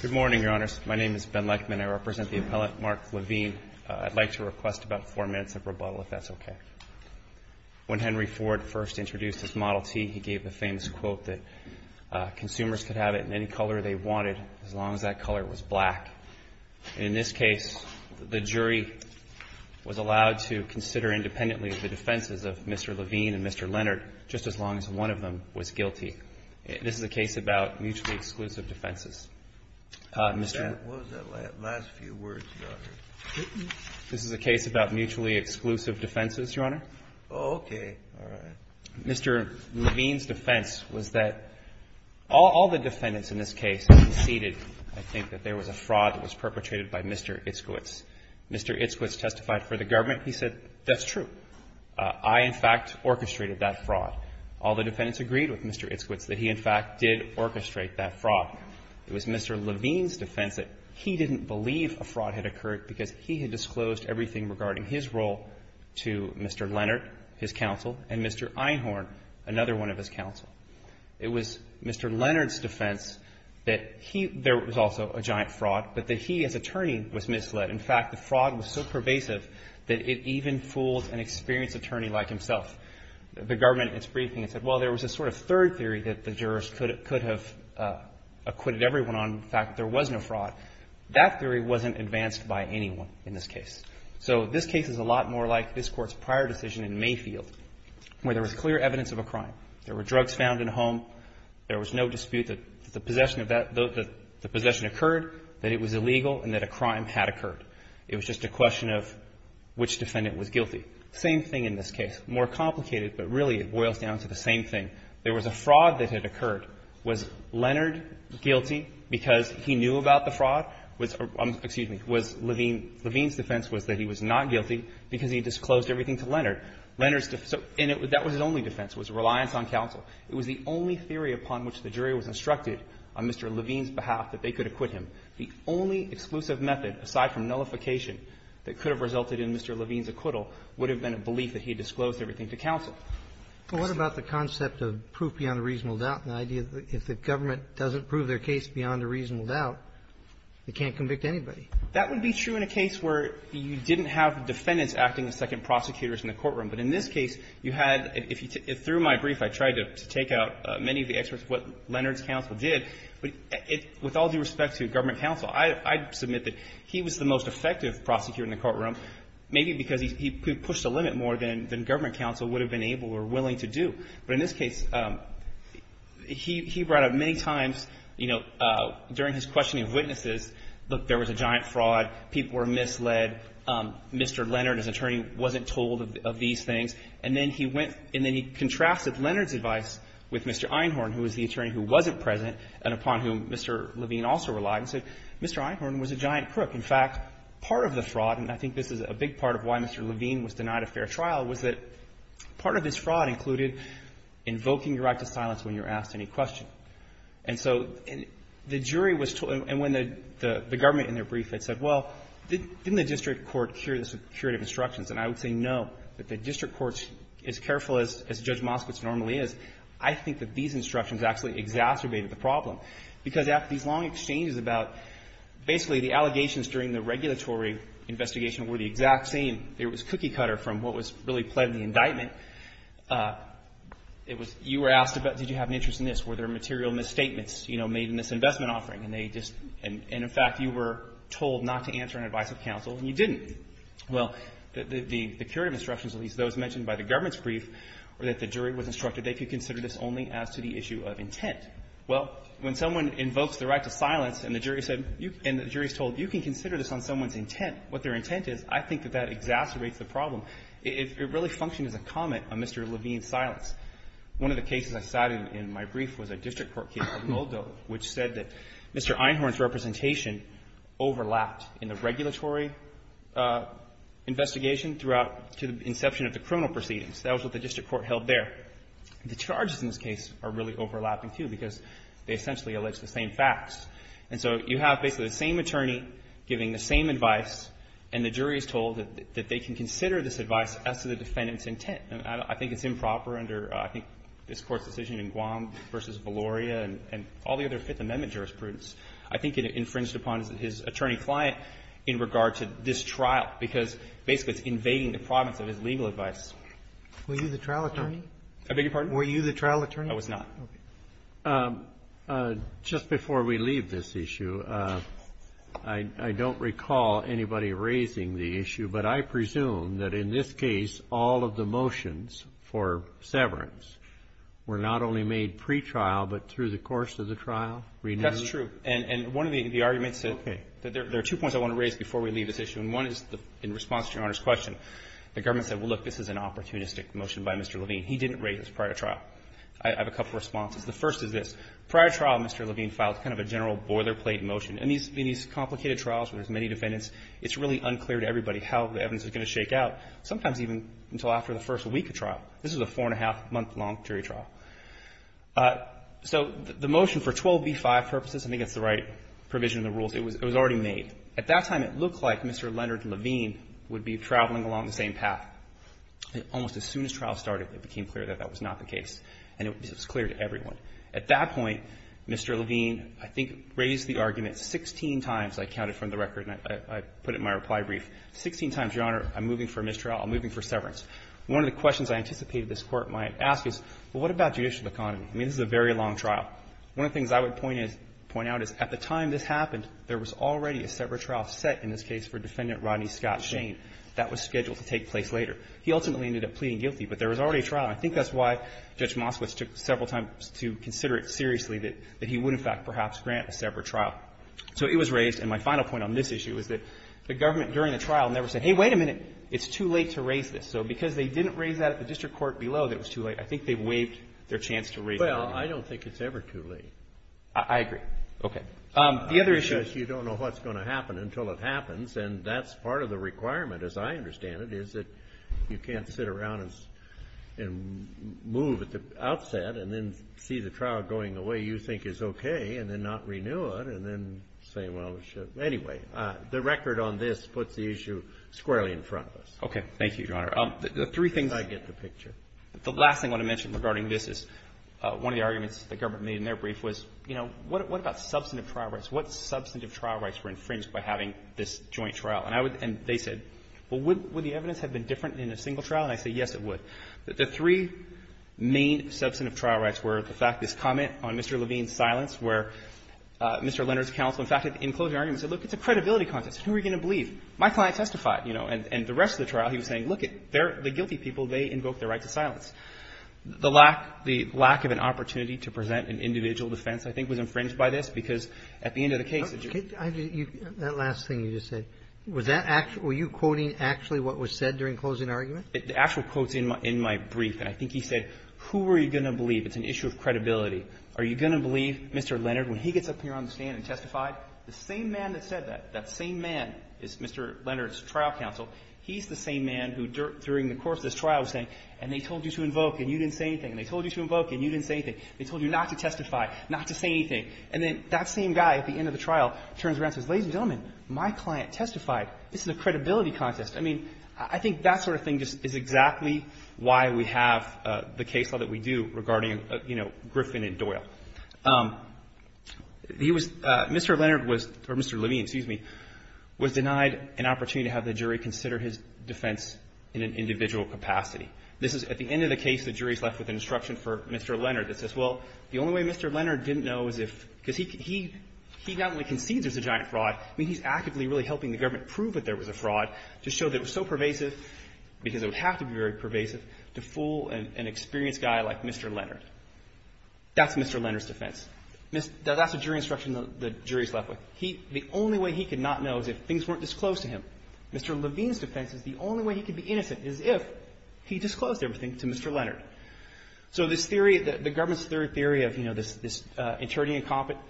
Good morning, Your Honors. My name is Ben Lechman. I represent the appellant Mark Levine. I'd like to request about four minutes of rebuttal, if that's okay. When Henry Ford first introduced his Model T, he gave the famous quote that consumers could have it in any color they wanted as long as that color was black. In this case, the jury was allowed to consider independently the defenses of Mr. Levine and Mr. Leonard just as long as one of them was guilty. This is a case about mutually exclusive defenses. Mr. Levine. HENRY FORD What was that last few words, Your Honor? BEN LECHMAN This is a case about mutually exclusive defenses, Your Honor. HENRY FORD Oh, okay. All right. BEN LECHMAN Mr. Levine's defense was that all the defendants in this case conceded, I think, that there was a fraud that was perpetrated by Mr. Itzkowitz. Mr. Itzkowitz testified for the government. He said, that's true. I, in fact, orchestrated that fraud. All the defendants agreed with Mr. Itzkowitz that he, in fact, did orchestrate that fraud. It was Mr. Levine's defense that he didn't believe a fraud had occurred because he had disclosed everything regarding his role to Mr. Leonard, his counsel, and Mr. Einhorn, another one of his counsel. It was Mr. Leonard's defense that there was also a giant fraud, but that he as attorney was misled. In fact, the fraud was so pervasive that it even fooled an experienced attorney like himself. The government, in its briefing, it said, well, there was a sort of third theory that the jurors could have acquitted everyone on the fact that there was no fraud. That theory wasn't advanced by anyone in this case. So this case is a lot more like this Court's prior decision in Mayfield, where there was clear evidence of a crime. There were drugs found in a home. There was no dispute that the possession of that, the possession occurred, that it was illegal, and that a crime had occurred. It was just a question of which defendant was guilty. Same thing in this case. More complicated, but really it boils down to the same thing. There was a fraud that had occurred. Was Leonard guilty because he knew about the fraud? Excuse me. Was Levine, Levine's defense was that he was not guilty because he disclosed everything to Leonard. Leonard's defense, and that was his only defense, was reliance on counsel. It was the only theory upon which the jury was instructed on Mr. Levine's behalf that they could acquit him. The only exclusive method, aside from nullification, that could have resulted in Mr. Levine's acquittal would have been a belief that he disclosed everything to counsel. Roberts. Well, what about the concept of proof beyond a reasonable doubt and the idea that if the government doesn't prove their case beyond a reasonable doubt, it can't convict anybody? That would be true in a case where you didn't have defendants acting as second prosecutors in the courtroom. But in this case, you had, through my brief, I tried to take out many of the experts, what Leonard's counsel did. But with all due respect to government counsel, I submit that he was the most effective prosecutor in the courtroom, maybe because he pushed the limit more than government counsel would have been able or willing to do. But in this case, he brought up many times, you know, during his questioning of witnesses, look, there was a giant fraud. People were misled. They said, Mr. Leonard, his attorney, wasn't told of these things. And then he went and then he contrasted Leonard's advice with Mr. Einhorn, who was the attorney who wasn't present and upon whom Mr. Levine also relied, and said, Mr. Einhorn was a giant crook. In fact, part of the fraud, and I think this is a big part of why Mr. Levine was denied a fair trial, was that part of his fraud included invoking your right to silence when you were asked any question. And so the jury was told, and when the government in their brief had said, well, didn't the district court cure this with curative instructions? And I would say no. But the district courts, as careful as Judge Moskowitz normally is, I think that these instructions actually exacerbated the problem. Because after these long exchanges about basically the allegations during the regulatory investigation were the exact same. It was cookie cutter from what was really pled in the indictment. It was you were asked about did you have an interest in this. Were there material misstatements, you know, made in this investment offering? And in fact, you were told not to answer an advice of counsel, and you didn't. Well, the curative instructions, at least those mentioned by the government's brief, were that the jury was instructed they could consider this only as to the issue of intent. Well, when someone invokes the right to silence, and the jury is told you can consider this on someone's intent, what their intent is, I think that that exacerbates the problem. It really functioned as a comment on Mr. Levine's silence. One of the cases I cited in my brief was a district court case of Moldo, which said that Mr. Einhorn's representation overlapped in the regulatory investigation throughout to the inception of the criminal proceedings. That was what the district court held there. The charges in this case are really overlapping, too, because they essentially allege the same facts. And so you have basically the same attorney giving the same advice, and the jury is told that they can consider this advice as to the defendant's intent. And I think it's improper under, I think, this Court's decision in Guam v. Valoria and all the other Fifth Amendment jurisprudence. I think it infringed upon his attorney-client in regard to this trial, because basically it's invading the province of his legal advice. Were you the trial attorney? I beg your pardon? Were you the trial attorney? I was not. Just before we leave this issue, I don't recall anybody raising the issue, but I presume that in this case all of the motions for severance were not only made pretrial, but through the course of the trial? That's true. And one of the arguments that there are two points I want to raise before we leave this issue, and one is in response to Your Honor's question, the government said, well, look, this is an opportunistic motion by Mr. Levine. He didn't raise it prior to trial. I have a couple of responses. The first is this. Prior to trial, Mr. Levine filed kind of a general boilerplate motion. In these complicated trials where there's many defendants, it's really unclear to everybody how the evidence is going to shake out, sometimes even until after the first week of trial. This is a four-and-a-half-month-long jury trial. So the motion for 12b-5 purposes, I think that's the right provision in the rules, it was already made. At that time, it looked like Mr. Leonard Levine would be traveling along the same path. Almost as soon as trial started, it became clear that that was not the case, and it was clear to everyone. At that point, Mr. Levine, I think, raised the argument 16 times, I counted from the record and I put it in my reply brief, 16 times, Your Honor, I'm moving for a mistrial, I'm moving for severance. One of the questions I anticipated this Court might ask is, well, what about judicial economy? I mean, this is a very long trial. One of the things I would point out is at the time this happened, there was already a severed trial set in this case for Defendant Rodney Scott Shane. That was scheduled to take place later. He ultimately ended up pleading guilty, but there was already a trial. I think that's why Judge Moskowitz took several times to consider it seriously that he would, in fact, perhaps grant a severed trial. So it was raised, and my final point on this issue is that the government during the trial never said, hey, wait a minute, it's too late to raise this. So because they didn't raise that at the district court below that it was too late, I think they waived their chance to raise it. Well, I don't think it's ever too late. I agree. Okay. The other issue is you don't know what's going to happen until it happens, and that's part of the requirement, as I understand it, is that you can't sit around and move at the outset and then see the trial going the way you think is okay and then not renew it and then say, well, it should. Anyway, the record on this puts the issue squarely in front of us. Thank you, Your Honor. The three things I get the picture. The last thing I want to mention regarding this is one of the arguments the government made in their brief was, you know, what about substantive trial rights? What substantive trial rights were infringed by having this joint trial? And I would — and they said, well, would the evidence have been different in a single trial? And I said, yes, it would. The three main substantive trial rights were the fact this comment on Mr. Levine's silence, where Mr. Leonard's counsel, in fact, in closing argument said, look, it's a credibility contest. Who are you going to believe? My client testified, you know. And the rest of the trial, he was saying, look, the guilty people, they invoked their right to silence. The lack of an opportunity to present an individual defense, I think, was infringed by this, because at the end of the case — That last thing you just said, was that — were you quoting actually what was said during closing argument? The actual quote's in my brief, and I think he said, who are you going to believe? It's an issue of credibility. Are you going to believe Mr. Leonard when he gets up here on the stand and testifies? The same man that said that, that same man is Mr. Leonard's trial counsel. He's the same man who, during the course of this trial, was saying, and they told you to invoke, and you didn't say anything, and they told you to invoke, and you didn't say anything. They told you not to testify, not to say anything. And then that same guy at the end of the trial turns around and says, ladies and gentlemen, my client testified. This is a credibility contest. I mean, I think that sort of thing just is exactly why we have the case law that we do regarding, you know, Griffin and Doyle. He was — Mr. Leonard was — or Mr. Levine, excuse me — was denied an opportunity to have the jury consider his defense in an individual capacity. This is — at the end of the case, the jury's left with an instruction for Mr. Leonard that says, well, the only way Mr. Leonard didn't know is if — because he not only concedes there's a giant fraud, I mean, he's actively really helping the government prove that there was a fraud to show that it was so pervasive, because it would have to be very pervasive to fool an experienced guy like Mr. Leonard. That's Mr. Leonard's defense. That's a jury instruction the jury's left with. The only way he could not know is if things weren't disclosed to him. Mr. Levine's defense is the only way he could be innocent is if he disclosed everything to Mr. Leonard. So this theory — the government's theory of, you know, this interning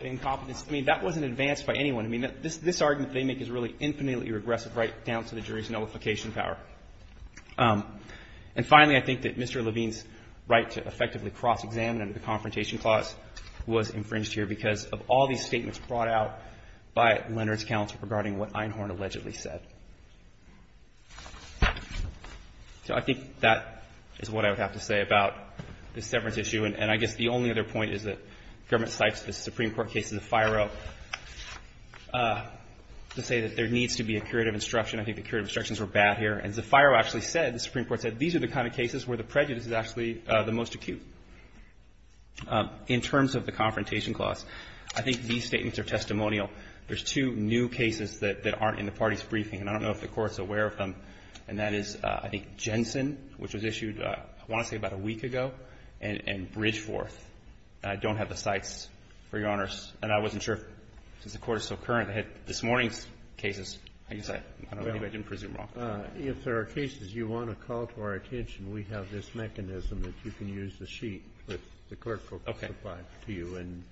incompetence, I mean, that wasn't advanced by anyone. I mean, this argument they make is really infinitely regressive right down to the jury's nullification power. And finally, I think that Mr. Levine's right to effectively cross-examine under the Confrontation Clause was infringed here because of all these statements brought out by Leonard's counsel regarding what Einhorn allegedly said. So I think that is what I would have to say about this severance issue. And I guess the only other point is that the government cites the Supreme Court case in the FIRO to say that there needs to be a curative instruction. I think the curative instructions were bad here. And the FIRO actually said, the Supreme Court said, these are the kind of cases where the prejudice is actually the most acute. In terms of the Confrontation Clause, I think these statements are testimonial. There's two new cases that aren't in the party's briefing, and I don't know if the Court's aware of them, and that is, I think, Jensen, which was issued, I want to say, about a week ago, and Bridgeforth. I don't have the cites for Your Honors. And I wasn't sure, since the Court is so current, they had this morning's cases. I guess I didn't presume wrong. Kennedy. If there are cases you want to call to our attention, we have this mechanism that you can use the sheet that the clerk will provide to you, and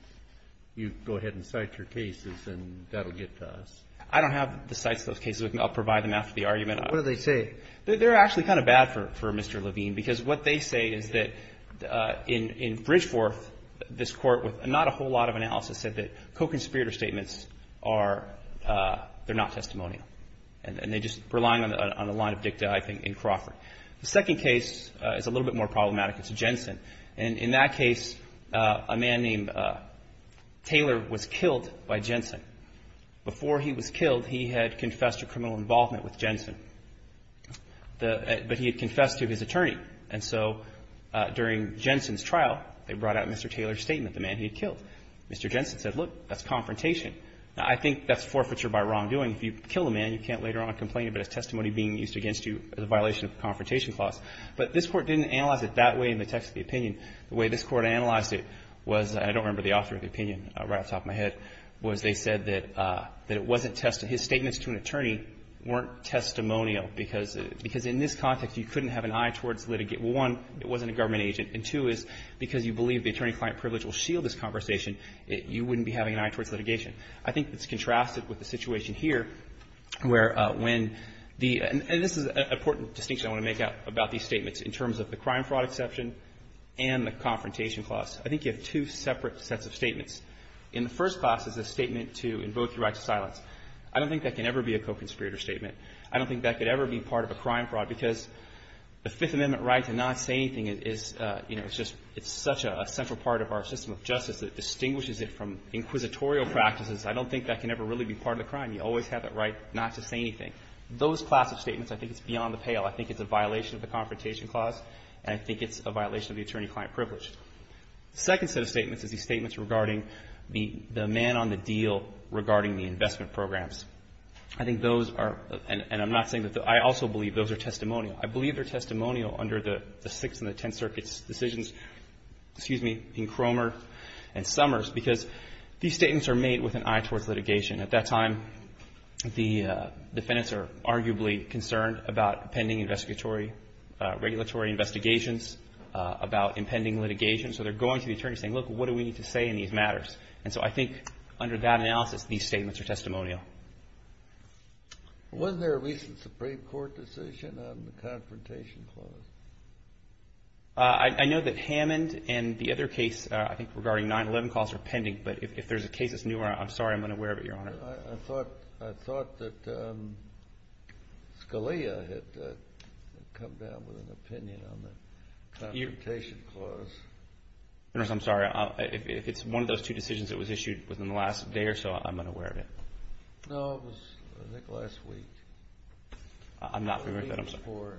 you go ahead and cite your cases, and that will get to us. I don't have the cites of those cases. I'll provide them after the argument. What do they say? They're actually kind of bad for Mr. Levine, because what they say is that in Bridgeforth, this Court, with not a whole lot of analysis, said that co-conspirator statements are, they're not testimonial. And they're just relying on a line of dicta, I think, in Crawford. The second case is a little bit more problematic. It's Jensen. And in that case, a man named Taylor was killed by Jensen. Before he was killed, he had confessed to criminal involvement with Jensen. But he had confessed to his attorney. And so during Jensen's trial, they brought out Mr. Taylor's statement, the man he had killed. Mr. Jensen said, look, that's confrontation. Now, I think that's forfeiture by wrongdoing. If you kill a man, you can't later on complain about his testimony being used against you as a violation of confrontation clause. But this Court didn't analyze it that way in the text of the opinion. The way this Court analyzed it was, and I don't remember the author of the opinion right off the top of my head, was they said that it wasn't testimony. His statements to an attorney weren't testimonial, because in this context, you couldn't have an eye towards litigation. One, it wasn't a government agent. And two is, because you believe the attorney-client privilege will shield this conversation, you wouldn't be having an eye towards litigation. I think it's contrasted with the situation here, where when the – and this is an important distinction I want to make out about these statements in terms of the crime fraud exception and the confrontation clause. I think you have two separate sets of statements. In the first clause is a statement to invoke the right to silence. I don't think that can ever be a co-conspirator statement. I don't think that could ever be part of a crime fraud, because the Fifth Amendment right to not say anything is, you know, it's just – it's such a central part of our system of justice. It distinguishes it from inquisitorial practices. I don't think that can ever really be part of the crime. You always have that right not to say anything. Those class of statements, I think it's beyond the pale. I think it's a violation of the confrontation clause, and I think it's a violation of the attorney-client privilege. The second set of statements is these statements regarding the man on the deal regarding the investment programs. I think those are – and I'm not saying that – I also believe those are testimonial. I believe they're testimonial under the Sixth and the Tenth Circuit's decisions, excuse me, in Cromer and Summers, because these statements are made with an eye towards litigation. At that time, the defendants are arguably concerned about pending investigatory – regulatory investigations, about impending litigation. So they're going to the attorney saying, look, what do we need to say in these matters? And so I think under that analysis, these statements are testimonial. Wasn't there a recent Supreme Court decision on the confrontation clause? I know that Hammond and the other case, I think, regarding 9-11 calls are pending, but if there's a case that's newer, I'm sorry, I'm unaware of it, Your Honor. I thought that Scalia had come down with an opinion on the confrontation clause. Your Honor, I'm sorry. If it's one of those two decisions that was issued within the last day or so, I'm unaware of it. No, it was, I think, last week. I'm not familiar with that, I'm sorry.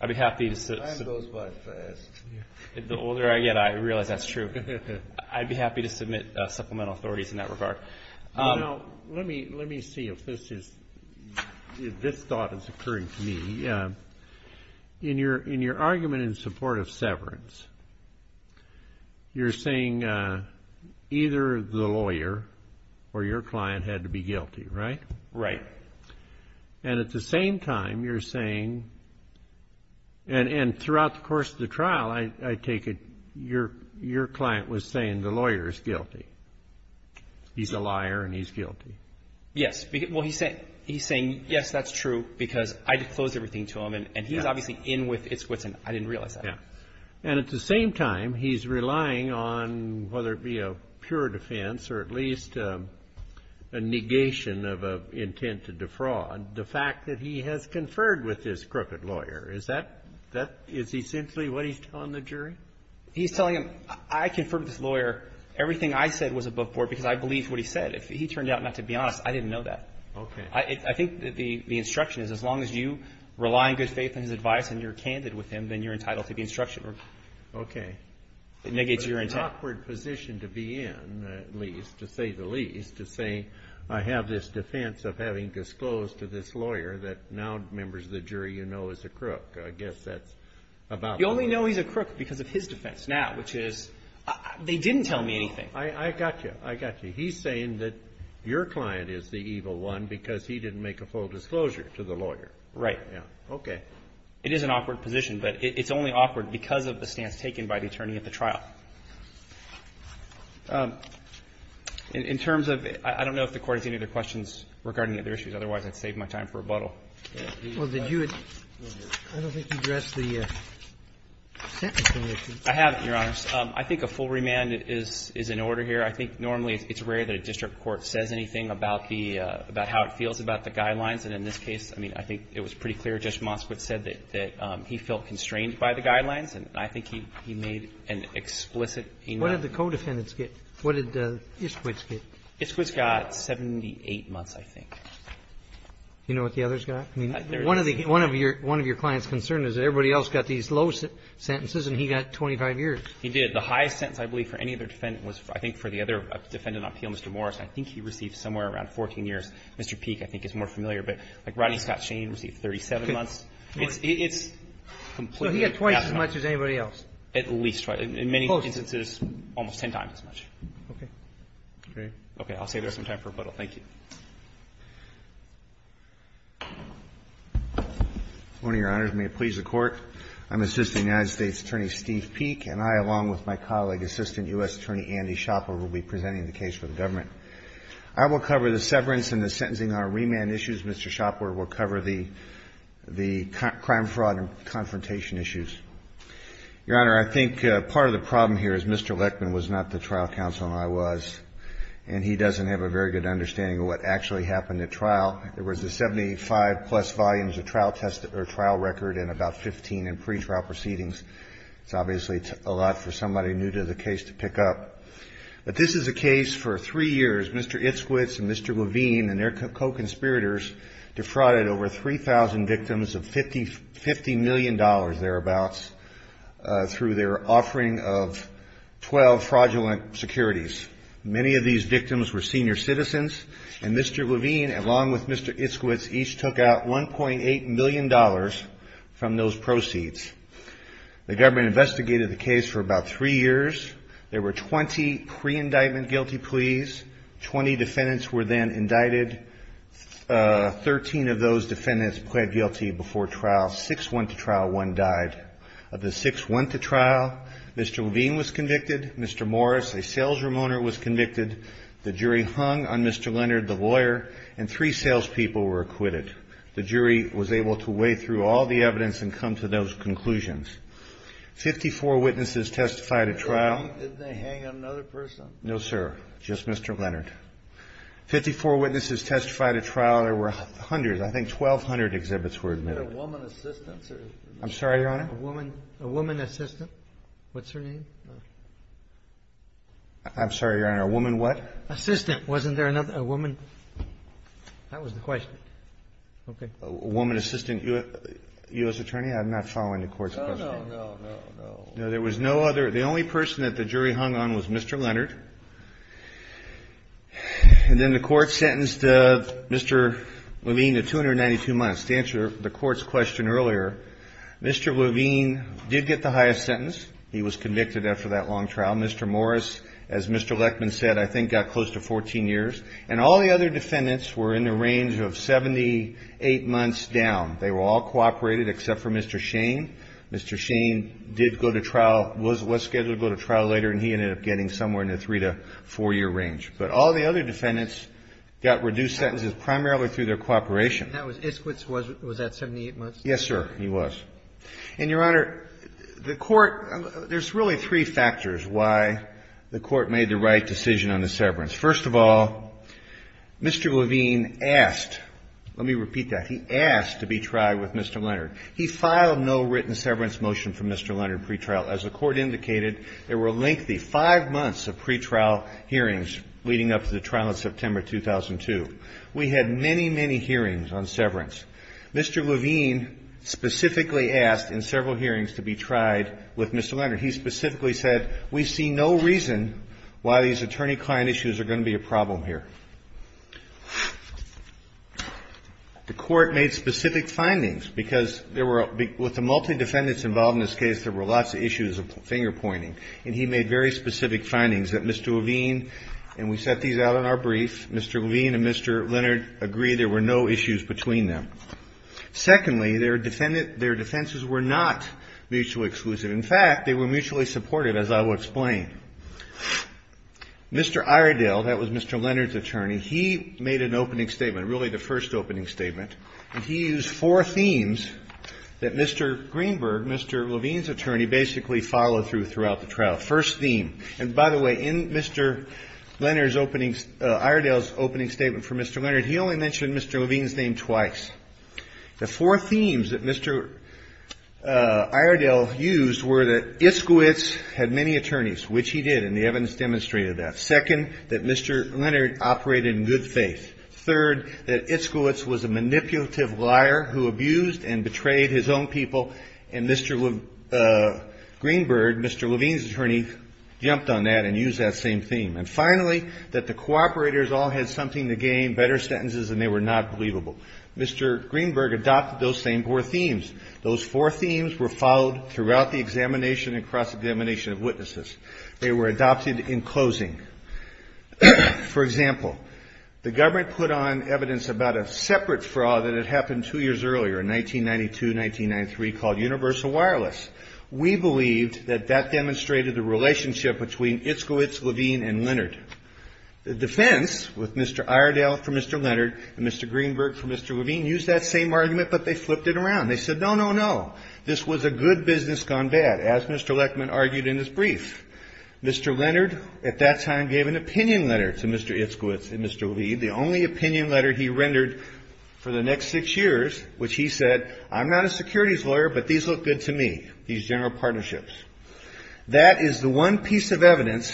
Time goes by fast. The older I get, I realize that's true. I'd be happy to submit supplemental authorities in that regard. Let me see if this thought is occurring to me. In your argument in support of severance, you're saying either the lawyer or your client had to be guilty, right? Right. And at the same time, you're saying, and throughout the course of the trial, I take it your client was saying the lawyer is guilty. He's a liar and he's guilty. Yes. Well, he's saying, yes, that's true, because I disclosed everything to him, and he's obviously in with its wits, and I didn't realize that. And at the same time, he's relying on whether it be a pure defense or at least a negation of an intent to defraud, the fact that he has conferred with this crooked lawyer. Is that, is he simply what he's telling the jury? He's telling him, I conferred with this lawyer. Everything I said was above board because I believed what he said. If he turned out not to be honest, I didn't know that. Okay. I think the instruction is as long as you rely on good faith in his advice and you're candid with him, then you're entitled to the instruction. It negates your intent. It's an awkward position to be in, at least, to say the least, to say I have this defense of having disclosed to this lawyer that now, members of the jury, you know is a crook. I guess that's about right. You only know he's a crook because of his defense now, which is they didn't tell me anything. I got you. I got you. He's saying that your client is the evil one because he didn't make a full disclosure to the lawyer. Right. Okay. It is an awkward position, but it's only awkward because of the stance taken by the attorney at the trial. In terms of, I don't know if the Court has any other questions regarding the other issues. Otherwise, I'd save my time for rebuttal. Well, did you address the sentence? I haven't, Your Honor. I think a full remand is in order here. I think normally it's rare that a district court says anything about the, about how it feels about the guidelines. And in this case, I mean, I think it was pretty clear. Judge Moskowitz said that he felt constrained by the guidelines, and I think he made an explicit enum. What did the co-defendants get? What did Iskwitz get? Iskwitz got 78 months, I think. Do you know what the others got? One of your clients' concern is that everybody else got these low sentences and he got 25 years. He did. The highest sentence, I believe, for any other defendant was, I think, for the other defendant on appeal, Mr. Morris. I think he received somewhere around 14 years. Mr. Peek, I think, is more familiar. But, like, Rodney Scott Shane received 37 months. It's completely out of the question. So he got twice as much as anybody else? At least twice. In many instances, almost ten times as much. Okay. Great. Okay. I'll save you some time for rebuttal. Thank you. One of Your Honors, may it please the Court. I'm Assistant United States Attorney Steve Peek, and I, along with my colleague, Assistant U.S. Attorney Andy Shopper, will be presenting the case for the government. I will cover the severance and the sentencing on remand issues. Mr. Shopper will cover the crime, fraud and confrontation issues. Your Honor, I think part of the problem here is Mr. Leckman was not the trial counsel and I was, and he doesn't have a very good understanding of what actually happened at trial. There was a 75-plus volumes of trial record and about 15 in pretrial proceedings. It's obviously a lot for somebody new to the case to pick up. But this is a case for three years. Mr. Itzkowitz and Mr. Levine and their co-conspirators defrauded over 3,000 victims of $50 million, thereabouts, through their offering of 12 fraudulent securities. Many of these victims were senior citizens, and Mr. Levine, along with Mr. Itzkowitz, each took out $1.8 million from those proceeds. The government investigated the case for about three years. There were 20 pre-indictment guilty pleas. Twenty defendants were then indicted. Thirteen of those defendants pled guilty before trial. Six went to trial, one died. Of the six who went to trial, Mr. Levine was convicted, Mr. Morris, a salesroom owner, was convicted. The jury hung on Mr. Leonard, the lawyer, and three salespeople were acquitted. The jury was able to weigh through all the evidence and come to those conclusions. Fifty-four witnesses testified at trial. Didn't they hang on another person? No, sir, just Mr. Leonard. Fifty-four witnesses testified at trial. There were hundreds, I think 1,200 exhibits were admitted. Was it a woman assistant? I'm sorry, Your Honor? A woman assistant? What's her name? I'm sorry, Your Honor. A woman what? Assistant. Wasn't there another woman? That was the question. Okay. A woman assistant, U.S. attorney? I'm not following the Court's question. No, no, no, no, no. No, there was no other. The only person that the jury hung on was Mr. Leonard. And then the Court sentenced Mr. Levine to 292 months. And to answer the Court's question earlier, Mr. Levine did get the highest sentence. He was convicted after that long trial. Mr. Morris, as Mr. Lechman said, I think got close to 14 years. And all the other defendants were in the range of 78 months down. They were all cooperated except for Mr. Shane. Mr. Shane did go to trial, was scheduled to go to trial later, and he ended up getting somewhere in the three- to four-year range. But all the other defendants got reduced sentences primarily through their cooperation. Esquitz was at 78 months? Yes, sir, he was. And, Your Honor, the Court – there's really three factors why the Court made the right decision on the severance. First of all, Mr. Levine asked – let me repeat that. He asked to be tried with Mr. Leonard. He filed no written severance motion for Mr. Leonard pretrial. As the Court indicated, there were lengthy five months of pretrial hearings leading up to the trial in September 2002. We had many, many hearings on severance. Mr. Levine specifically asked in several hearings to be tried with Mr. Leonard. He specifically said, we see no reason why these attorney-client issues are going to be a problem here. The Court made specific findings because there were – with the multi-defendants involved in this case, there were lots of issues of finger-pointing. And he made very specific findings that Mr. Levine – and we set these out in our agree there were no issues between them. Secondly, their defenses were not mutually exclusive. In fact, they were mutually supportive, as I will explain. Mr. Iredale – that was Mr. Leonard's attorney – he made an opening statement, really the first opening statement. And he used four themes that Mr. Greenberg, Mr. Levine's attorney, basically followed through throughout the trial. First theme – and by the way, in Mr. Leonard's opening – Iredale's opening statement for Mr. Leonard, he only mentioned Mr. Levine's name twice. The four themes that Mr. Iredale used were that Iskowitz had many attorneys, which he did, and the evidence demonstrated that. Second, that Mr. Leonard operated in good faith. Third, that Iskowitz was a manipulative liar who abused and betrayed his own people. And Mr. Greenberg, Mr. Levine's attorney, jumped on that and used that same theme. And finally, that the cooperators all had something to gain, better sentences, and they were not believable. Mr. Greenberg adopted those same four themes. Those four themes were followed throughout the examination and cross-examination of witnesses. They were adopted in closing. For example, the government put on evidence about a separate fraud that had happened two years earlier in 1992-1993 called universal wireless. We believed that that demonstrated the relationship between Iskowitz, Levine, and Leonard. The defense with Mr. Iredale for Mr. Leonard and Mr. Greenberg for Mr. Levine used that same argument, but they flipped it around. They said, no, no, no. This was a good business gone bad, as Mr. Leckman argued in his brief. Mr. Leonard at that time gave an opinion letter to Mr. Iskowitz and Mr. Levine. The only opinion letter he rendered for the next six years, which he said, I'm not a securities lawyer, but these look good to me, these general partnerships. That is the one piece of evidence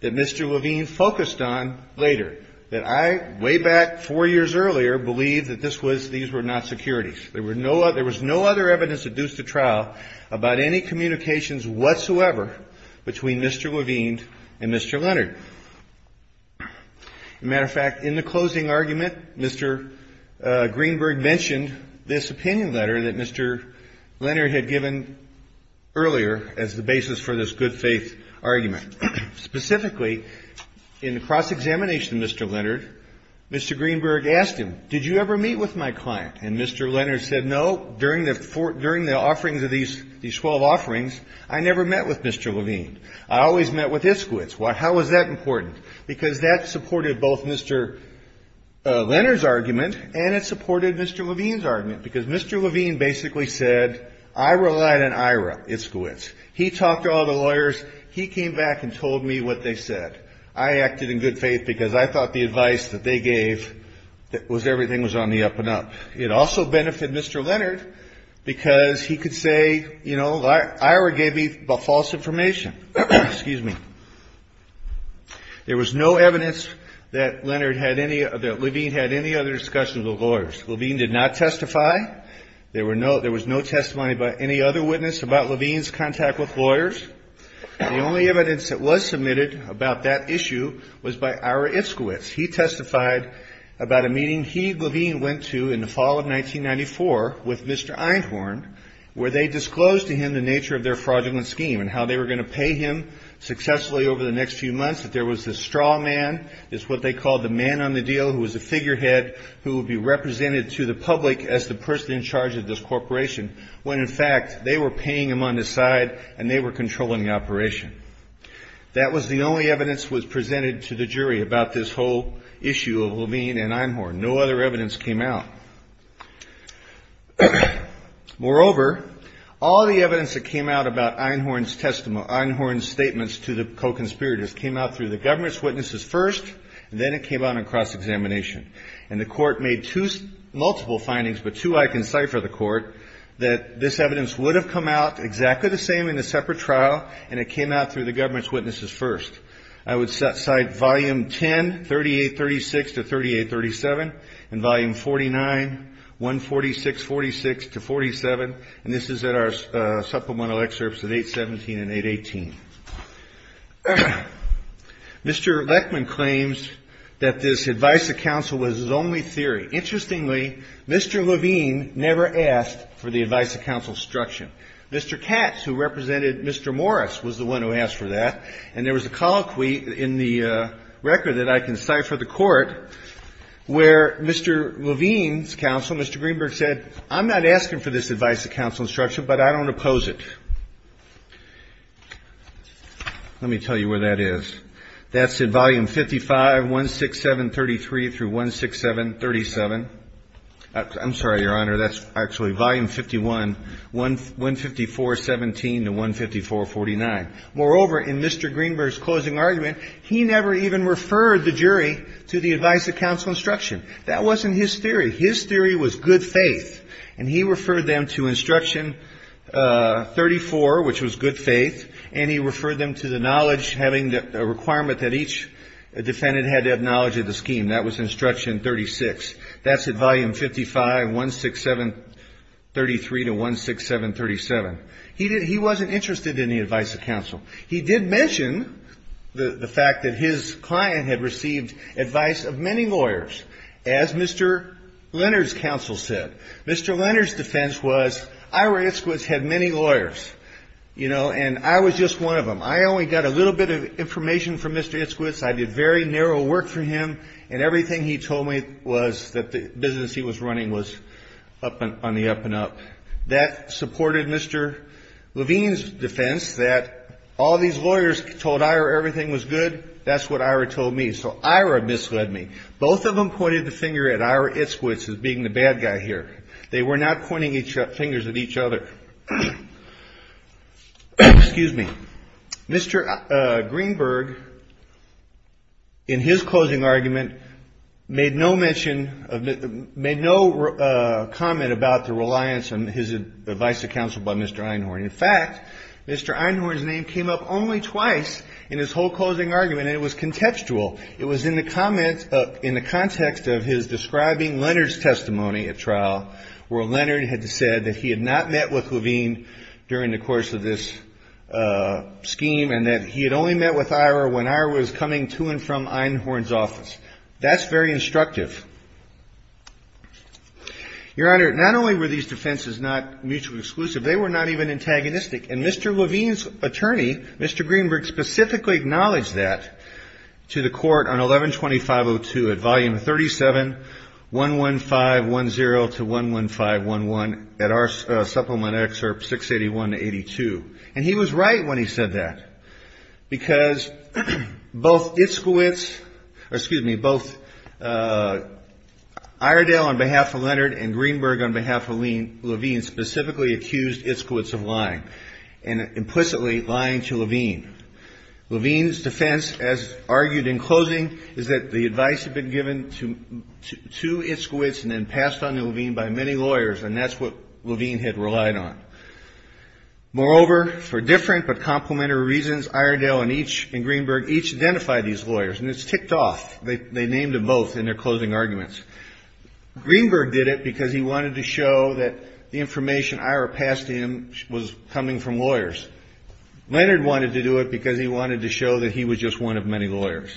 that Mr. Levine focused on later, that I way back four years earlier believed that these were not securities. There was no other evidence adduced to trial about any communications whatsoever between Mr. Levine and Mr. Leonard. As a matter of fact, in the closing argument, Mr. Greenberg mentioned this opinion letter that Mr. Leonard had given earlier as the basis for this good faith argument. Specifically, in the cross-examination of Mr. Leonard, Mr. Greenberg asked him, did you ever meet with my client? And Mr. Leonard said, no, during the offerings of these 12 offerings, I never met with Mr. Levine. I always met with Iskowitz. How was that important? Because that supported both Mr. Leonard's argument and it supported Mr. Levine's argument. Because Mr. Levine basically said, I relied on Ira Iskowitz. He talked to all the lawyers. He came back and told me what they said. I acted in good faith because I thought the advice that they gave was everything was on the up and up. It also benefited Mr. Leonard because he could say, you know, Ira gave me the false information. Excuse me. There was no evidence that Leonard had any, that Levine had any other discussions with lawyers. Levine did not testify. There was no testimony by any other witness about Levine's contact with lawyers. The only evidence that was submitted about that issue was by Ira Iskowitz. He testified about a meeting he, Levine, went to in the fall of 1994 with Mr. Einhorn, where they disclosed to him the nature of their fraudulent scheme and how they were going to pay him successfully over the next few months, that there was this straw man, it's what they called the man on the deal, who was a figurehead who would be represented to the public as the person in charge of this corporation, when in fact, they were paying him on the side and they were controlling the operation. That was the only evidence that was presented to the jury about this whole issue of Levine and Einhorn. No other evidence came out. Moreover, all the evidence that came out about Einhorn's testimony, Einhorn's statements to the co-conspirators, came out through the government's witnesses first, and then it came out in cross-examination. And the court made two multiple findings, but two I can cite for the court, that this evidence would have come out exactly the same in a separate trial, and it came out through the government's witnesses first. I would cite volume 10, 3836 to 3837, and volume 49, 14646 to 47, and this is in our supplemental excerpts of 817 and 818. Mr. Leckman claims that this advice of counsel was his only theory. Interestingly, Mr. Levine never asked for the advice of counsel's instruction. Mr. Katz, who represented Mr. Morris, was the one who asked for that, and there was a colloquy in the record that I can cite for the court, where Mr. Levine's counsel, Mr. Greenberg, said, I'm not asking for this advice of counsel's instruction, but I don't oppose it. Let me tell you where that is. That's in volume 55, 16733 through 16737. I'm sorry, Your Honor, that's actually volume 51, 15417 to 15449. Moreover, in Mr. Greenberg's closing argument, he never even referred the jury to the advice of counsel instruction. That wasn't his theory. His theory was good faith, and he referred them to instruction 34, which was good faith, and he referred them to the knowledge, having a requirement that each defendant had to have knowledge of the scheme. That was instruction 36. That's in volume 55, 16733 to 16737. He wasn't interested in the advice of counsel. He did mention the fact that his client had received advice of many lawyers, as Mr. Leonard's counsel said. Mr. Leonard's defense was Ira Itzkowitz had many lawyers, you know, and I was just one of them. I only got a little bit of information from Mr. Itzkowitz. I did very narrow work for him, and everything he told me was that the business he was running was on the up and up. That supported Mr. Levine's defense that all these lawyers told Ira everything was good. That's what Ira told me. So Ira misled me. Both of them pointed the finger at Ira Itzkowitz as being the bad guy here. They were not pointing fingers at each other. Excuse me. Mr. Greenberg, in his closing argument, made no comment about the reliance on his advice of counsel by Mr. Einhorn. In fact, Mr. Einhorn's name came up only twice in his whole closing argument, and it was contextual. It was in the context of his describing Leonard's testimony at trial, where Leonard had said that he had not met with Levine during the course of this scheme and that he had only met with Ira when Ira was coming to and from That's very instructive. Your Honor, not only were these defenses not mutually exclusive, they were not even antagonistic. And Mr. Levine's attorney, Mr. Greenberg, specifically acknowledged that to the court on 11-2502 at volume 37, 11510 to 11511 at our supplement excerpt 681-82. And he was right when he said that, because both Iskowitz, or excuse me, both Iredell on behalf of Leonard and Greenberg on behalf of Levine specifically accused Iskowitz of lying and implicitly lying to Levine. Levine's defense, as argued in closing, is that the advice had been given to Iskowitz and then passed on to Levine by many lawyers, and that's what Levine had relied on. Moreover, for different but complementary reasons, Iredell and Greenberg each identified these lawyers, and it's ticked off. They named them both in their closing arguments. Greenberg did it because he wanted to show that the information Ira passed him was coming from lawyers. Leonard wanted to do it because he wanted to show that he was just one of many lawyers.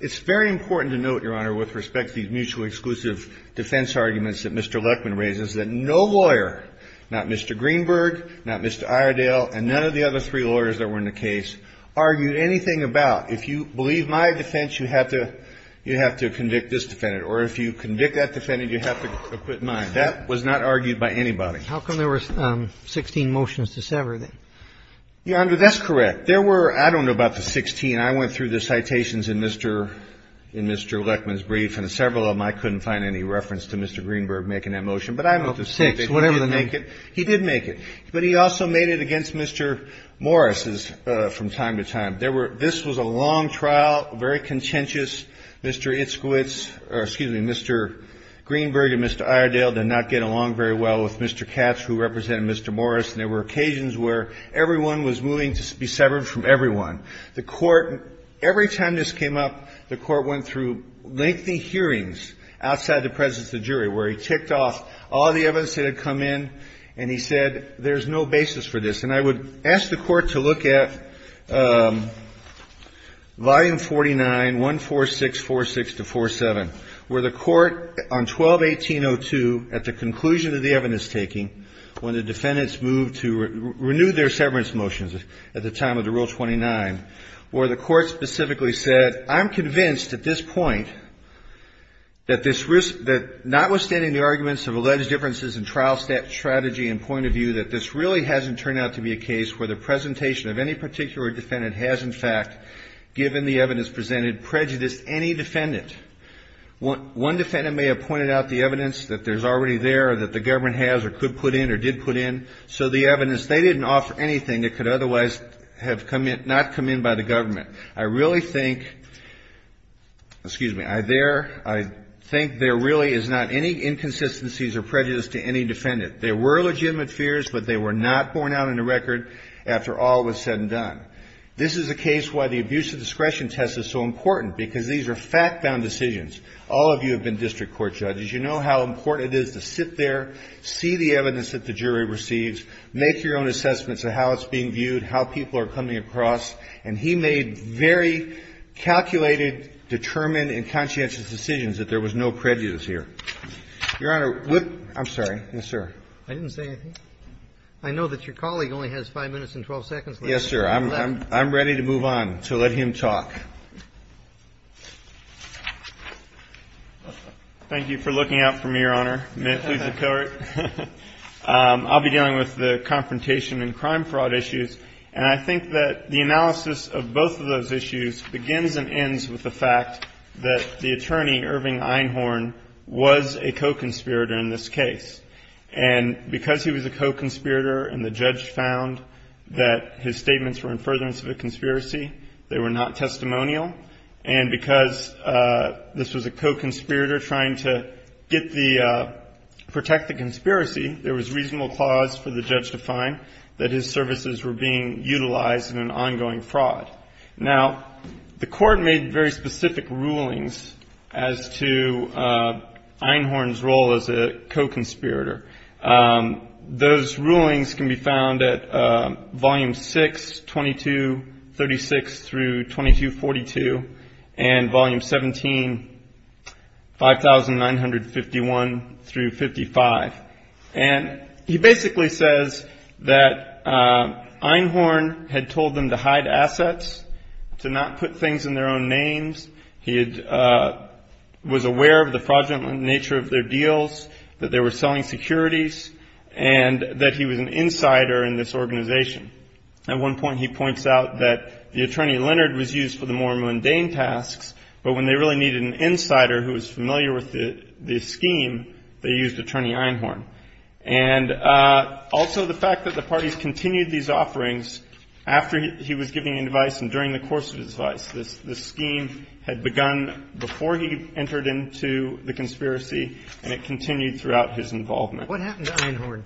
It's very important to note, Your Honor, with respect to these mutually exclusive defense arguments that Mr. Lechman raises, that no lawyer, not Mr. Greenberg, not Mr. Iredell, and none of the other three lawyers that were in the case, argued anything about if you believe my defense, you have to convict this defendant, or if you convict that defendant, you have to acquit mine. That was not argued by anybody. How come there were 16 motions to sever? Your Honor, that's correct. There were, I don't know about the 16. I mean, I went through the citations in Mr. Lechman's brief, and several of them I couldn't find any reference to Mr. Greenberg making that motion. But I know the six, whatever the name. He did make it. But he also made it against Mr. Morris' from time to time. This was a long trial, very contentious. Mr. Itzkowitz, or excuse me, Mr. Greenberg and Mr. Iredell did not get along very well with Mr. Katz, who represented Mr. Morris, and there were occasions where everyone was moving to be severed from everyone. The Court, every time this came up, the Court went through lengthy hearings outside the presence of the jury, where he ticked off all the evidence that had come in, and he said, there's no basis for this. And I would ask the Court to look at Volume 49, 14646-47, where the Court on 12-1802, at the conclusion of the evidence-taking, when the defendants moved to renew their severance motions at the time of the trial, 12-129, where the Court specifically said, I'm convinced at this point that notwithstanding the arguments of alleged differences in trial strategy and point of view, that this really hasn't turned out to be a case where the presentation of any particular defendant has, in fact, given the evidence presented, prejudiced any defendant. One defendant may have pointed out the evidence that there's already there or that the government has or could put in or did put in, so the evidence, they didn't offer anything that could otherwise have not come in by the government. I really think, excuse me, I think there really is not any inconsistencies or prejudice to any defendant. There were legitimate fears, but they were not borne out in the record after all was said and done. This is a case why the abuse of discretion test is so important, because these are fact-bound decisions. All of you have been district court judges. You know how important it is to sit there, see the evidence that the jury receives, make your own assessments of how it's being viewed, how people are coming across. And he made very calculated, determined and conscientious decisions that there was no prejudice here. Your Honor, I'm sorry. Yes, sir. I didn't say anything. I know that your colleague only has 5 minutes and 12 seconds left. Yes, sir. I'm ready to move on, so let him talk. Thank you for looking out for me, Your Honor. May it please the Court. I'll be dealing with the confrontation and crime fraud issues. And I think that the analysis of both of those issues begins and ends with the fact that the attorney, Irving Einhorn, was a co-conspirator in this case. And because he was a co-conspirator and the judge found that his statements were in furtherance of a conspiracy, they were not testimonial. And because this was a co-conspirator trying to protect the conspiracy, there was reasonable clause for the judge to find that his services were being utilized in an ongoing fraud. Now, the Court made very specific rulings as to Einhorn's role as a co-conspirator. Those rulings can be found at Volume 6, 2236 through 2242, and Volume 17, 5951 through 55. And he basically says that Einhorn had told them to hide assets, to not put things in their own names. He was aware of the fraudulent nature of their deals, that they were selling securities, and that he was an insider in this organization. At one point he points out that the attorney, Leonard, was used for the more mundane tasks, but when they really needed an insider who was familiar with the scheme, they used attorney Einhorn. And also the fact that the parties continued these offerings after he was giving advice and during the course of his advice. This scheme had begun before he entered into the conspiracy, and it continued throughout his involvement. What happened to Einhorn?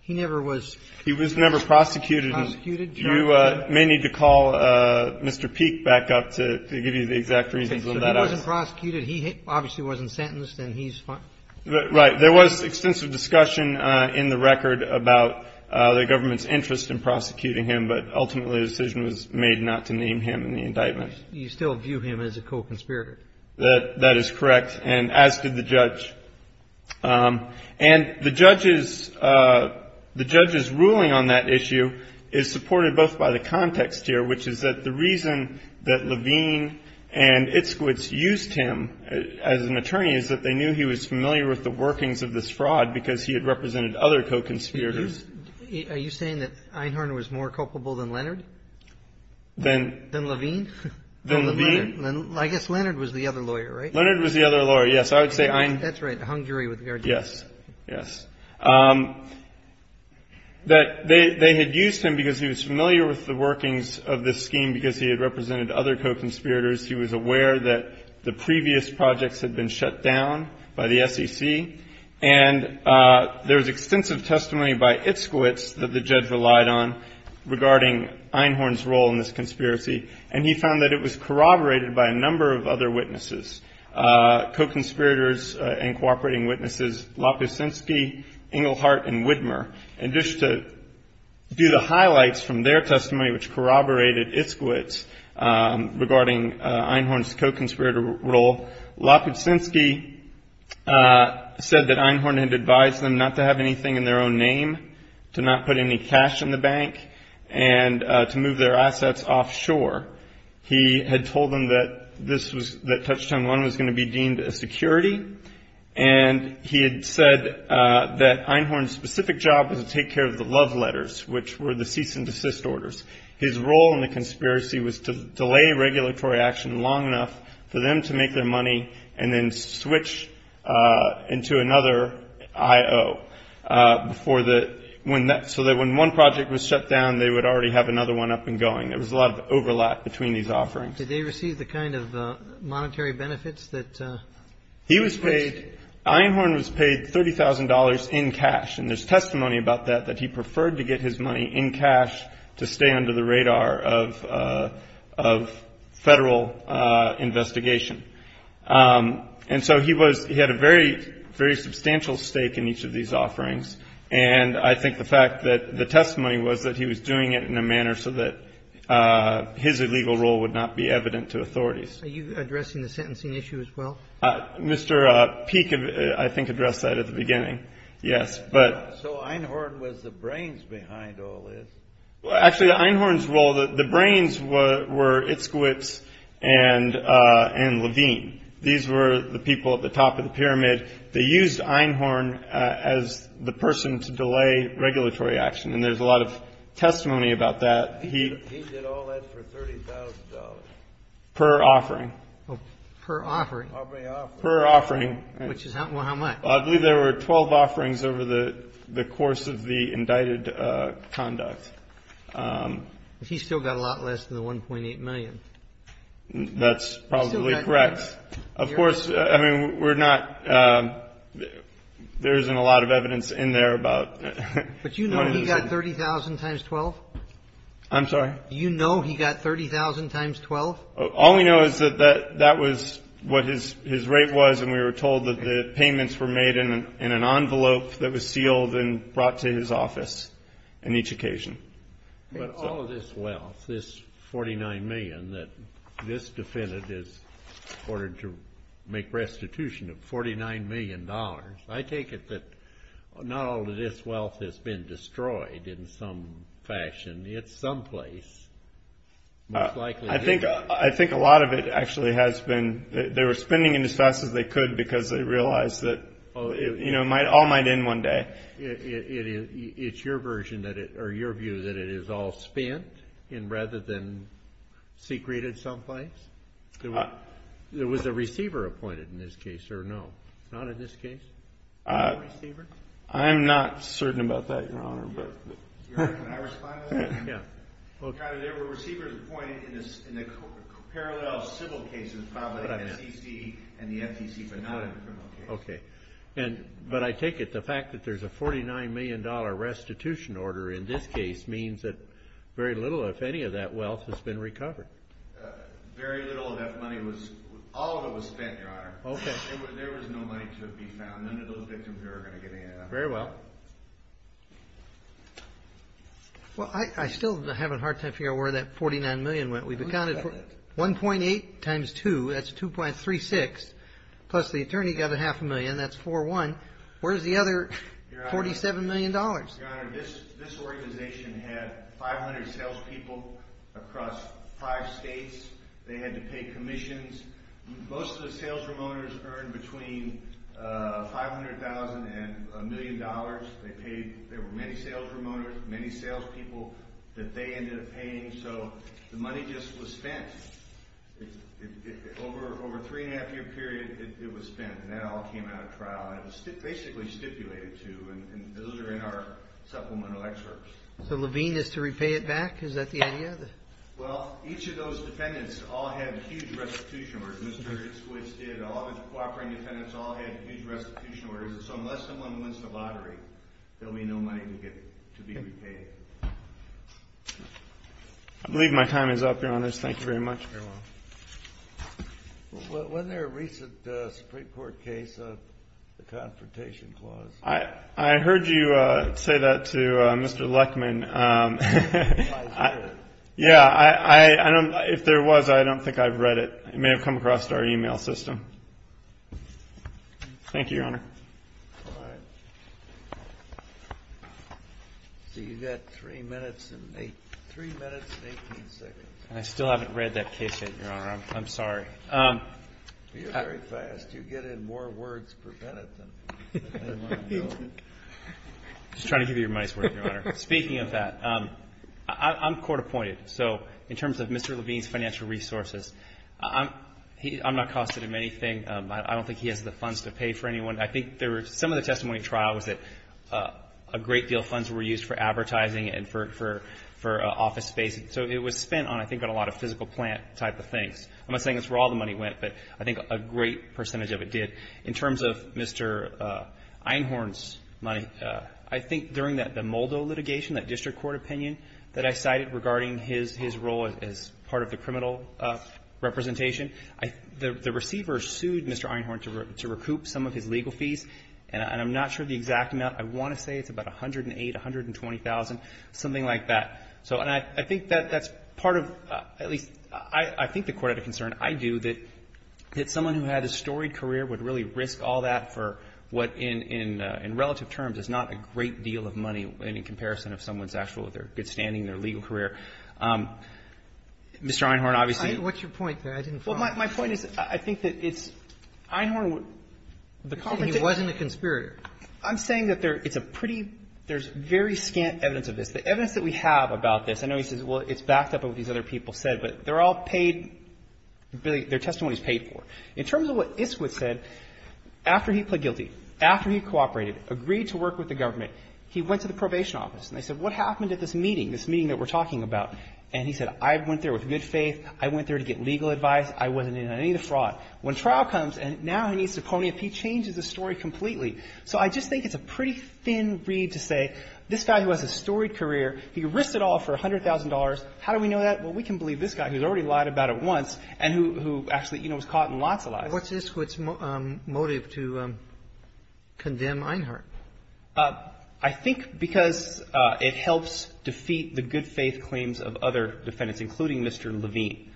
He never was prosecuted. He was never prosecuted. You may need to call Mr. Peek back up to give you the exact reasons of that. He wasn't prosecuted. He obviously wasn't sentenced, and he's fine. Right. There was extensive discussion in the record about the government's interest in prosecuting him, but ultimately the decision was made not to name him in the indictment. You still view him as a co-conspirator. That is correct. And as did the judge. And the judge's ruling on that issue is supported both by the context here, which is that the reason that Levine and Itskowitz used him as an attorney is that they knew he was familiar with the workings of this fraud because he had represented other co-conspirators. Are you saying that Einhorn was more culpable than Leonard? Than? Than Levine? Than Levine? I guess Leonard was the other lawyer, right? Leonard was the other lawyer, yes. I would say Einhorn. That's right. Hungary was the other lawyer. Yes. Yes. They had used him because he was familiar with the workings of this scheme because he had represented other co-conspirators. He was aware that the previous projects had been shut down by the SEC, and there was extensive testimony by Itskowitz that the judge relied on regarding Einhorn's role in this conspiracy, and he found that it was corroborated by a number of other witnesses, co-conspirators and cooperating witnesses, Lopukhsinski, Engelhardt, and Widmer. And just to do the highlights from their testimony, which corroborated Itskowitz regarding Einhorn's co-conspirator role, Lopukhsinski said that Einhorn had advised them not to have anything in their own name, to not put any cash in the bank, and to move their assets offshore. He had told them that this was, that Touchdown 1 was going to be deemed a security, and he had said that Einhorn's specific job was to take care of the love letters, which were the cease and desist orders. His role in the conspiracy was to delay regulatory action long enough for them to make their money and then switch into another I.O. before the, so that when one project was shut down, they would already have another one up and going. There was a lot of overlap between these offerings. Did they receive the kind of monetary benefits that? He was paid, Einhorn was paid $30,000 in cash. And there's testimony about that, that he preferred to get his money in cash to stay under the radar of Federal investigation. And so he was, he had a very, very substantial stake in each of these offerings. And I think the fact that the testimony was that he was doing it in a manner so that his illegal role would not be evident to authorities. Are you addressing the sentencing issue as well? Mr. Peek, I think, addressed that at the beginning. Yes, but. So Einhorn was the brains behind all this? Actually, Einhorn's role, the brains were Itzkowitz and Levine. These were the people at the top of the pyramid. They used Einhorn as the person to delay regulatory action. And there's a lot of testimony about that. He did all that for $30,000. Per offering. Per offering. Per offering. Which is how much? I believe there were 12 offerings over the course of the indicted conduct. He still got a lot less than the 1.8 million. That's probably correct. Yes. Of course, I mean, we're not. There isn't a lot of evidence in there about. But you know he got 30,000 times 12? I'm sorry? Do you know he got 30,000 times 12? All we know is that that was what his rate was, and we were told that the payments were made in an envelope that was sealed and brought to his office in each occasion. But all of this wealth, this $49 million that this defendant is ordered to make restitution of, $49 million, I take it that not all of this wealth has been destroyed in some fashion. It's someplace. I think a lot of it actually has been. They were spending it as fast as they could because they realized that it all might end one day. It's your version or your view that it is all spent rather than secreted someplace? There was a receiver appointed in this case, or no? Not in this case? I'm not certain about that, Your Honor. Your Honor, can I respond to that? Yeah. There were receivers appointed in the parallel civil cases filed by the FCC and the FTC, but not in criminal cases. Okay. But I take it the fact that there's a $49 million restitution order in this case means that very little, if any, of that wealth has been recovered. Very little of that money was – all of it was spent, Your Honor. Okay. There was no money to be found. None of those victims are going to get any of that. Very well. Well, I still have a hard time figuring out where that $49 million went. We've accounted for 1.8 times 2. That's 2.36. Plus the attorney got a half a million. That's 4.1. Where's the other $47 million? Your Honor, this organization had 500 salespeople across five states. They had to pay commissions. Most of the salesroom owners earned between $500,000 and $1 million. They paid – there were many salesroom owners, many salespeople that they ended up paying, so the money just was spent. Over a three-and-a-half-year period, it was spent, and that all came out of trial. It was basically stipulated to, and those are in our supplemental excerpts. So Levine is to repay it back? Is that the idea? Well, each of those defendants all had huge restitution orders. Mr. Squids did. All of his cooperating defendants all had huge restitution orders. So unless someone wins the lottery, there will be no money to be repaid. I believe my time is up, Your Honors. Thank you very much. Very well. Wasn't there a recent Supreme Court case, the Confrontation Clause? I heard you say that to Mr. Leckman. Yeah, I don't – if there was, I don't think I've read it. It may have come across our email system. Thank you, Your Honor. All right. So you've got three minutes and – three minutes and 18 seconds. I still haven't read that case yet, Your Honor. I'm sorry. You're very fast. You get in more words for Bennett than anyone I know. I'm just trying to give you your money's worth, Your Honor. Speaking of that, I'm court-appointed. So in terms of Mr. Levine's financial resources, I'm not costing him anything. I don't think he has the funds to pay for anyone. I think some of the testimony in trial was that a great deal of funds were used for advertising and for office space. So it was spent on, I think, on a lot of physical plant type of things. I'm not saying that's where all the money went, but I think a great percentage of it did. In terms of Mr. Einhorn's money, I think during the Moldo litigation, that district court opinion, that I cited regarding his role as part of the criminal representation, the receiver sued Mr. Einhorn to recoup some of his legal fees, and I'm not sure the exact amount. I want to say it's about $108,000, $120,000, something like that. So and I think that's part of, at least I think the Court had a concern, I do, that someone who had a storied career would really risk all that for what in relative terms is not a great deal of money in comparison of someone's actual, if they're good standing, their legal career. Mr. Einhorn obviously — What's your point there? I didn't follow. Well, my point is, I think that it's Einhorn — You're saying he wasn't a conspirator. I'm saying that there's a pretty — there's very scant evidence of this. The evidence that we have about this, I know he says, well, it's backed up by what these other people said, but they're all paid — their testimony is paid for. In terms of what Iskwood said, after he pled guilty, after he cooperated, agreed to work with the government, he went to the probation office, and they said, what happened at this meeting, this meeting that we're talking about? And he said, I went there with good faith. I went there to get legal advice. I wasn't in any of the fraud. When trial comes and now he needs to pony up, he changes the story completely. So I just think it's a pretty thin read to say, this guy who has a storied career, he risked it all for $100,000. How do we know that? Well, we can believe this guy who's already lied about it once and who actually, you know, was caught in lots of lies. What's Iskwood's motive to condemn Einhorn? I think because it helps defeat the good faith claims of other defendants, including Mr. Levine.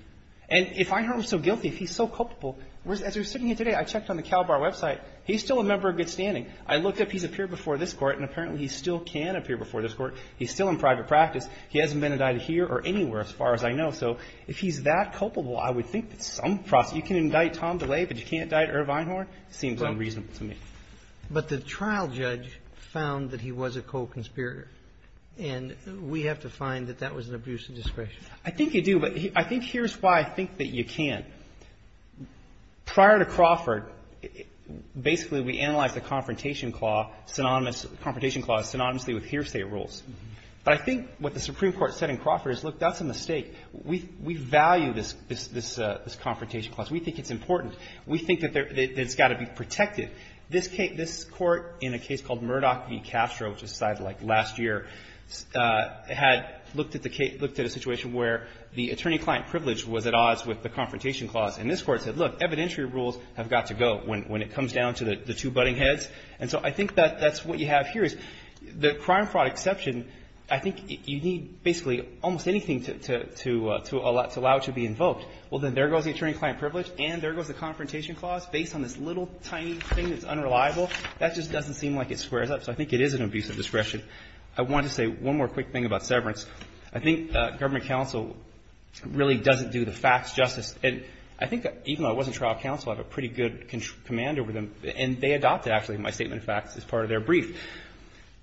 And if Einhorn was so guilty, if he's so culpable, as we were sitting here today, I don't think he would be standing. I looked up, he's appeared before this court, and apparently he still can appear before this court. He's still in private practice. He hasn't been indicted here or anywhere as far as I know. So if he's that culpable, I would think that some process, you can indict Tom DeLay, but you can't indict Irv Einhorn? It seems unreasonable to me. But the trial judge found that he was a co-conspirator. And we have to find that that was an abuse of discretion. I think you do. But I think here's why I think that you can. Prior to Crawford, basically we analyzed the Confrontation Clause synonymously with Hearsay Rules. But I think what the Supreme Court said in Crawford is, look, that's a mistake. We value this Confrontation Clause. We think it's important. We think that it's got to be protected. This Court, in a case called Murdoch v. Castro, which was decided, like, last year, had looked at a situation where the attorney-client privilege was at odds with the Confrontation Clause. And this Court said, look, evidentiary rules have got to go when it comes down to the two butting heads. And so I think that's what you have here is the crime fraud exception, I think you need basically almost anything to allow it to be invoked. Well, then there goes the attorney-client privilege and there goes the Confrontation Clause based on this little tiny thing that's unreliable. That just doesn't seem like it squares up. So I think it is an abuse of discretion. I wanted to say one more quick thing about severance. I think government counsel really doesn't do the facts justice. And I think even though I wasn't trial counsel, I have a pretty good command over them. And they adopted, actually, my statement of facts as part of their brief.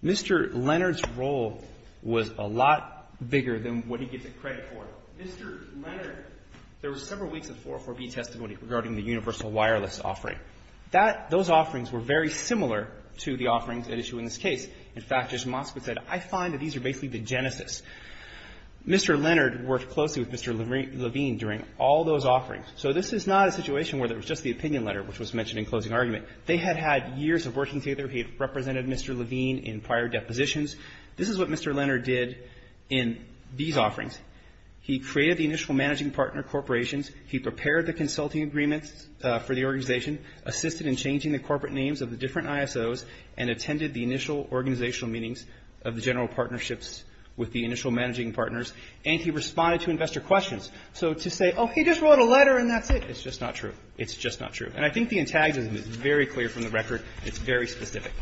Mr. Leonard's role was a lot bigger than what he gets a credit for. Mr. Leonard, there were several weeks of 404B testimony regarding the universal wireless offering. That, those offerings were very similar to the offerings at issue in this case. In fact, as Moskowitz said, I find that these are basically the genesis. Mr. Leonard worked closely with Mr. Levine during all those offerings. So this is not a situation where there was just the opinion letter, which was mentioned in closing argument. They had had years of working together. He had represented Mr. Levine in prior depositions. This is what Mr. Leonard did in these offerings. He created the initial managing partner corporations. He prepared the consulting agreements for the organization, assisted in changing the corporate names of the different ISOs, and attended the initial organizational meetings of the general partnerships with the initial managing partners. And he responded to investor questions. So to say, oh, he just wrote a letter and that's it, it's just not true. It's just not true. And I think the antagonism is very clear from the record. It's very specific.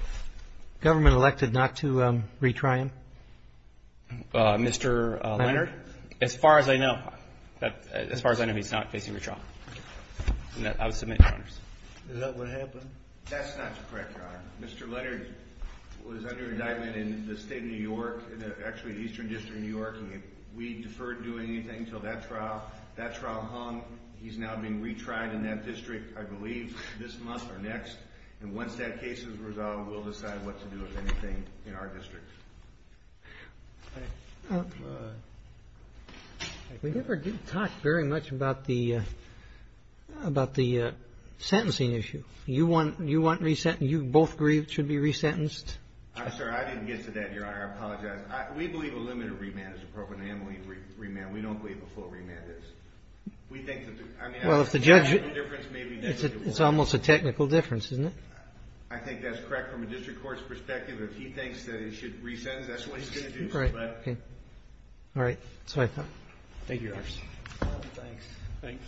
Government elected not to retry him? Mr. Leonard, as far as I know, as far as I know, he's not facing retrial. I would submit to honors. Is that what happened? That's not correct, Your Honor. Mr. Leonard was under indictment in the state of New York, actually the eastern district of New York, and we deferred doing anything until that trial. That trial hung. He's now being retried in that district, I believe, this month or next. And once that case is resolved, we'll decide what to do with anything in our district. We never did talk very much about the sentencing issue. You both agree it should be resentenced? I'm sorry, I didn't get to that, Your Honor. I apologize. We believe a limited remand is appropriate. We don't believe a full remand is. Well, if the judge – it's almost a technical difference, isn't it? I think that's correct from a district court's perspective. If he thinks that it should be resentenced, that's what he's going to do. All right. That's what I thought. Thank you, Your Honor. Thanks. Thanks.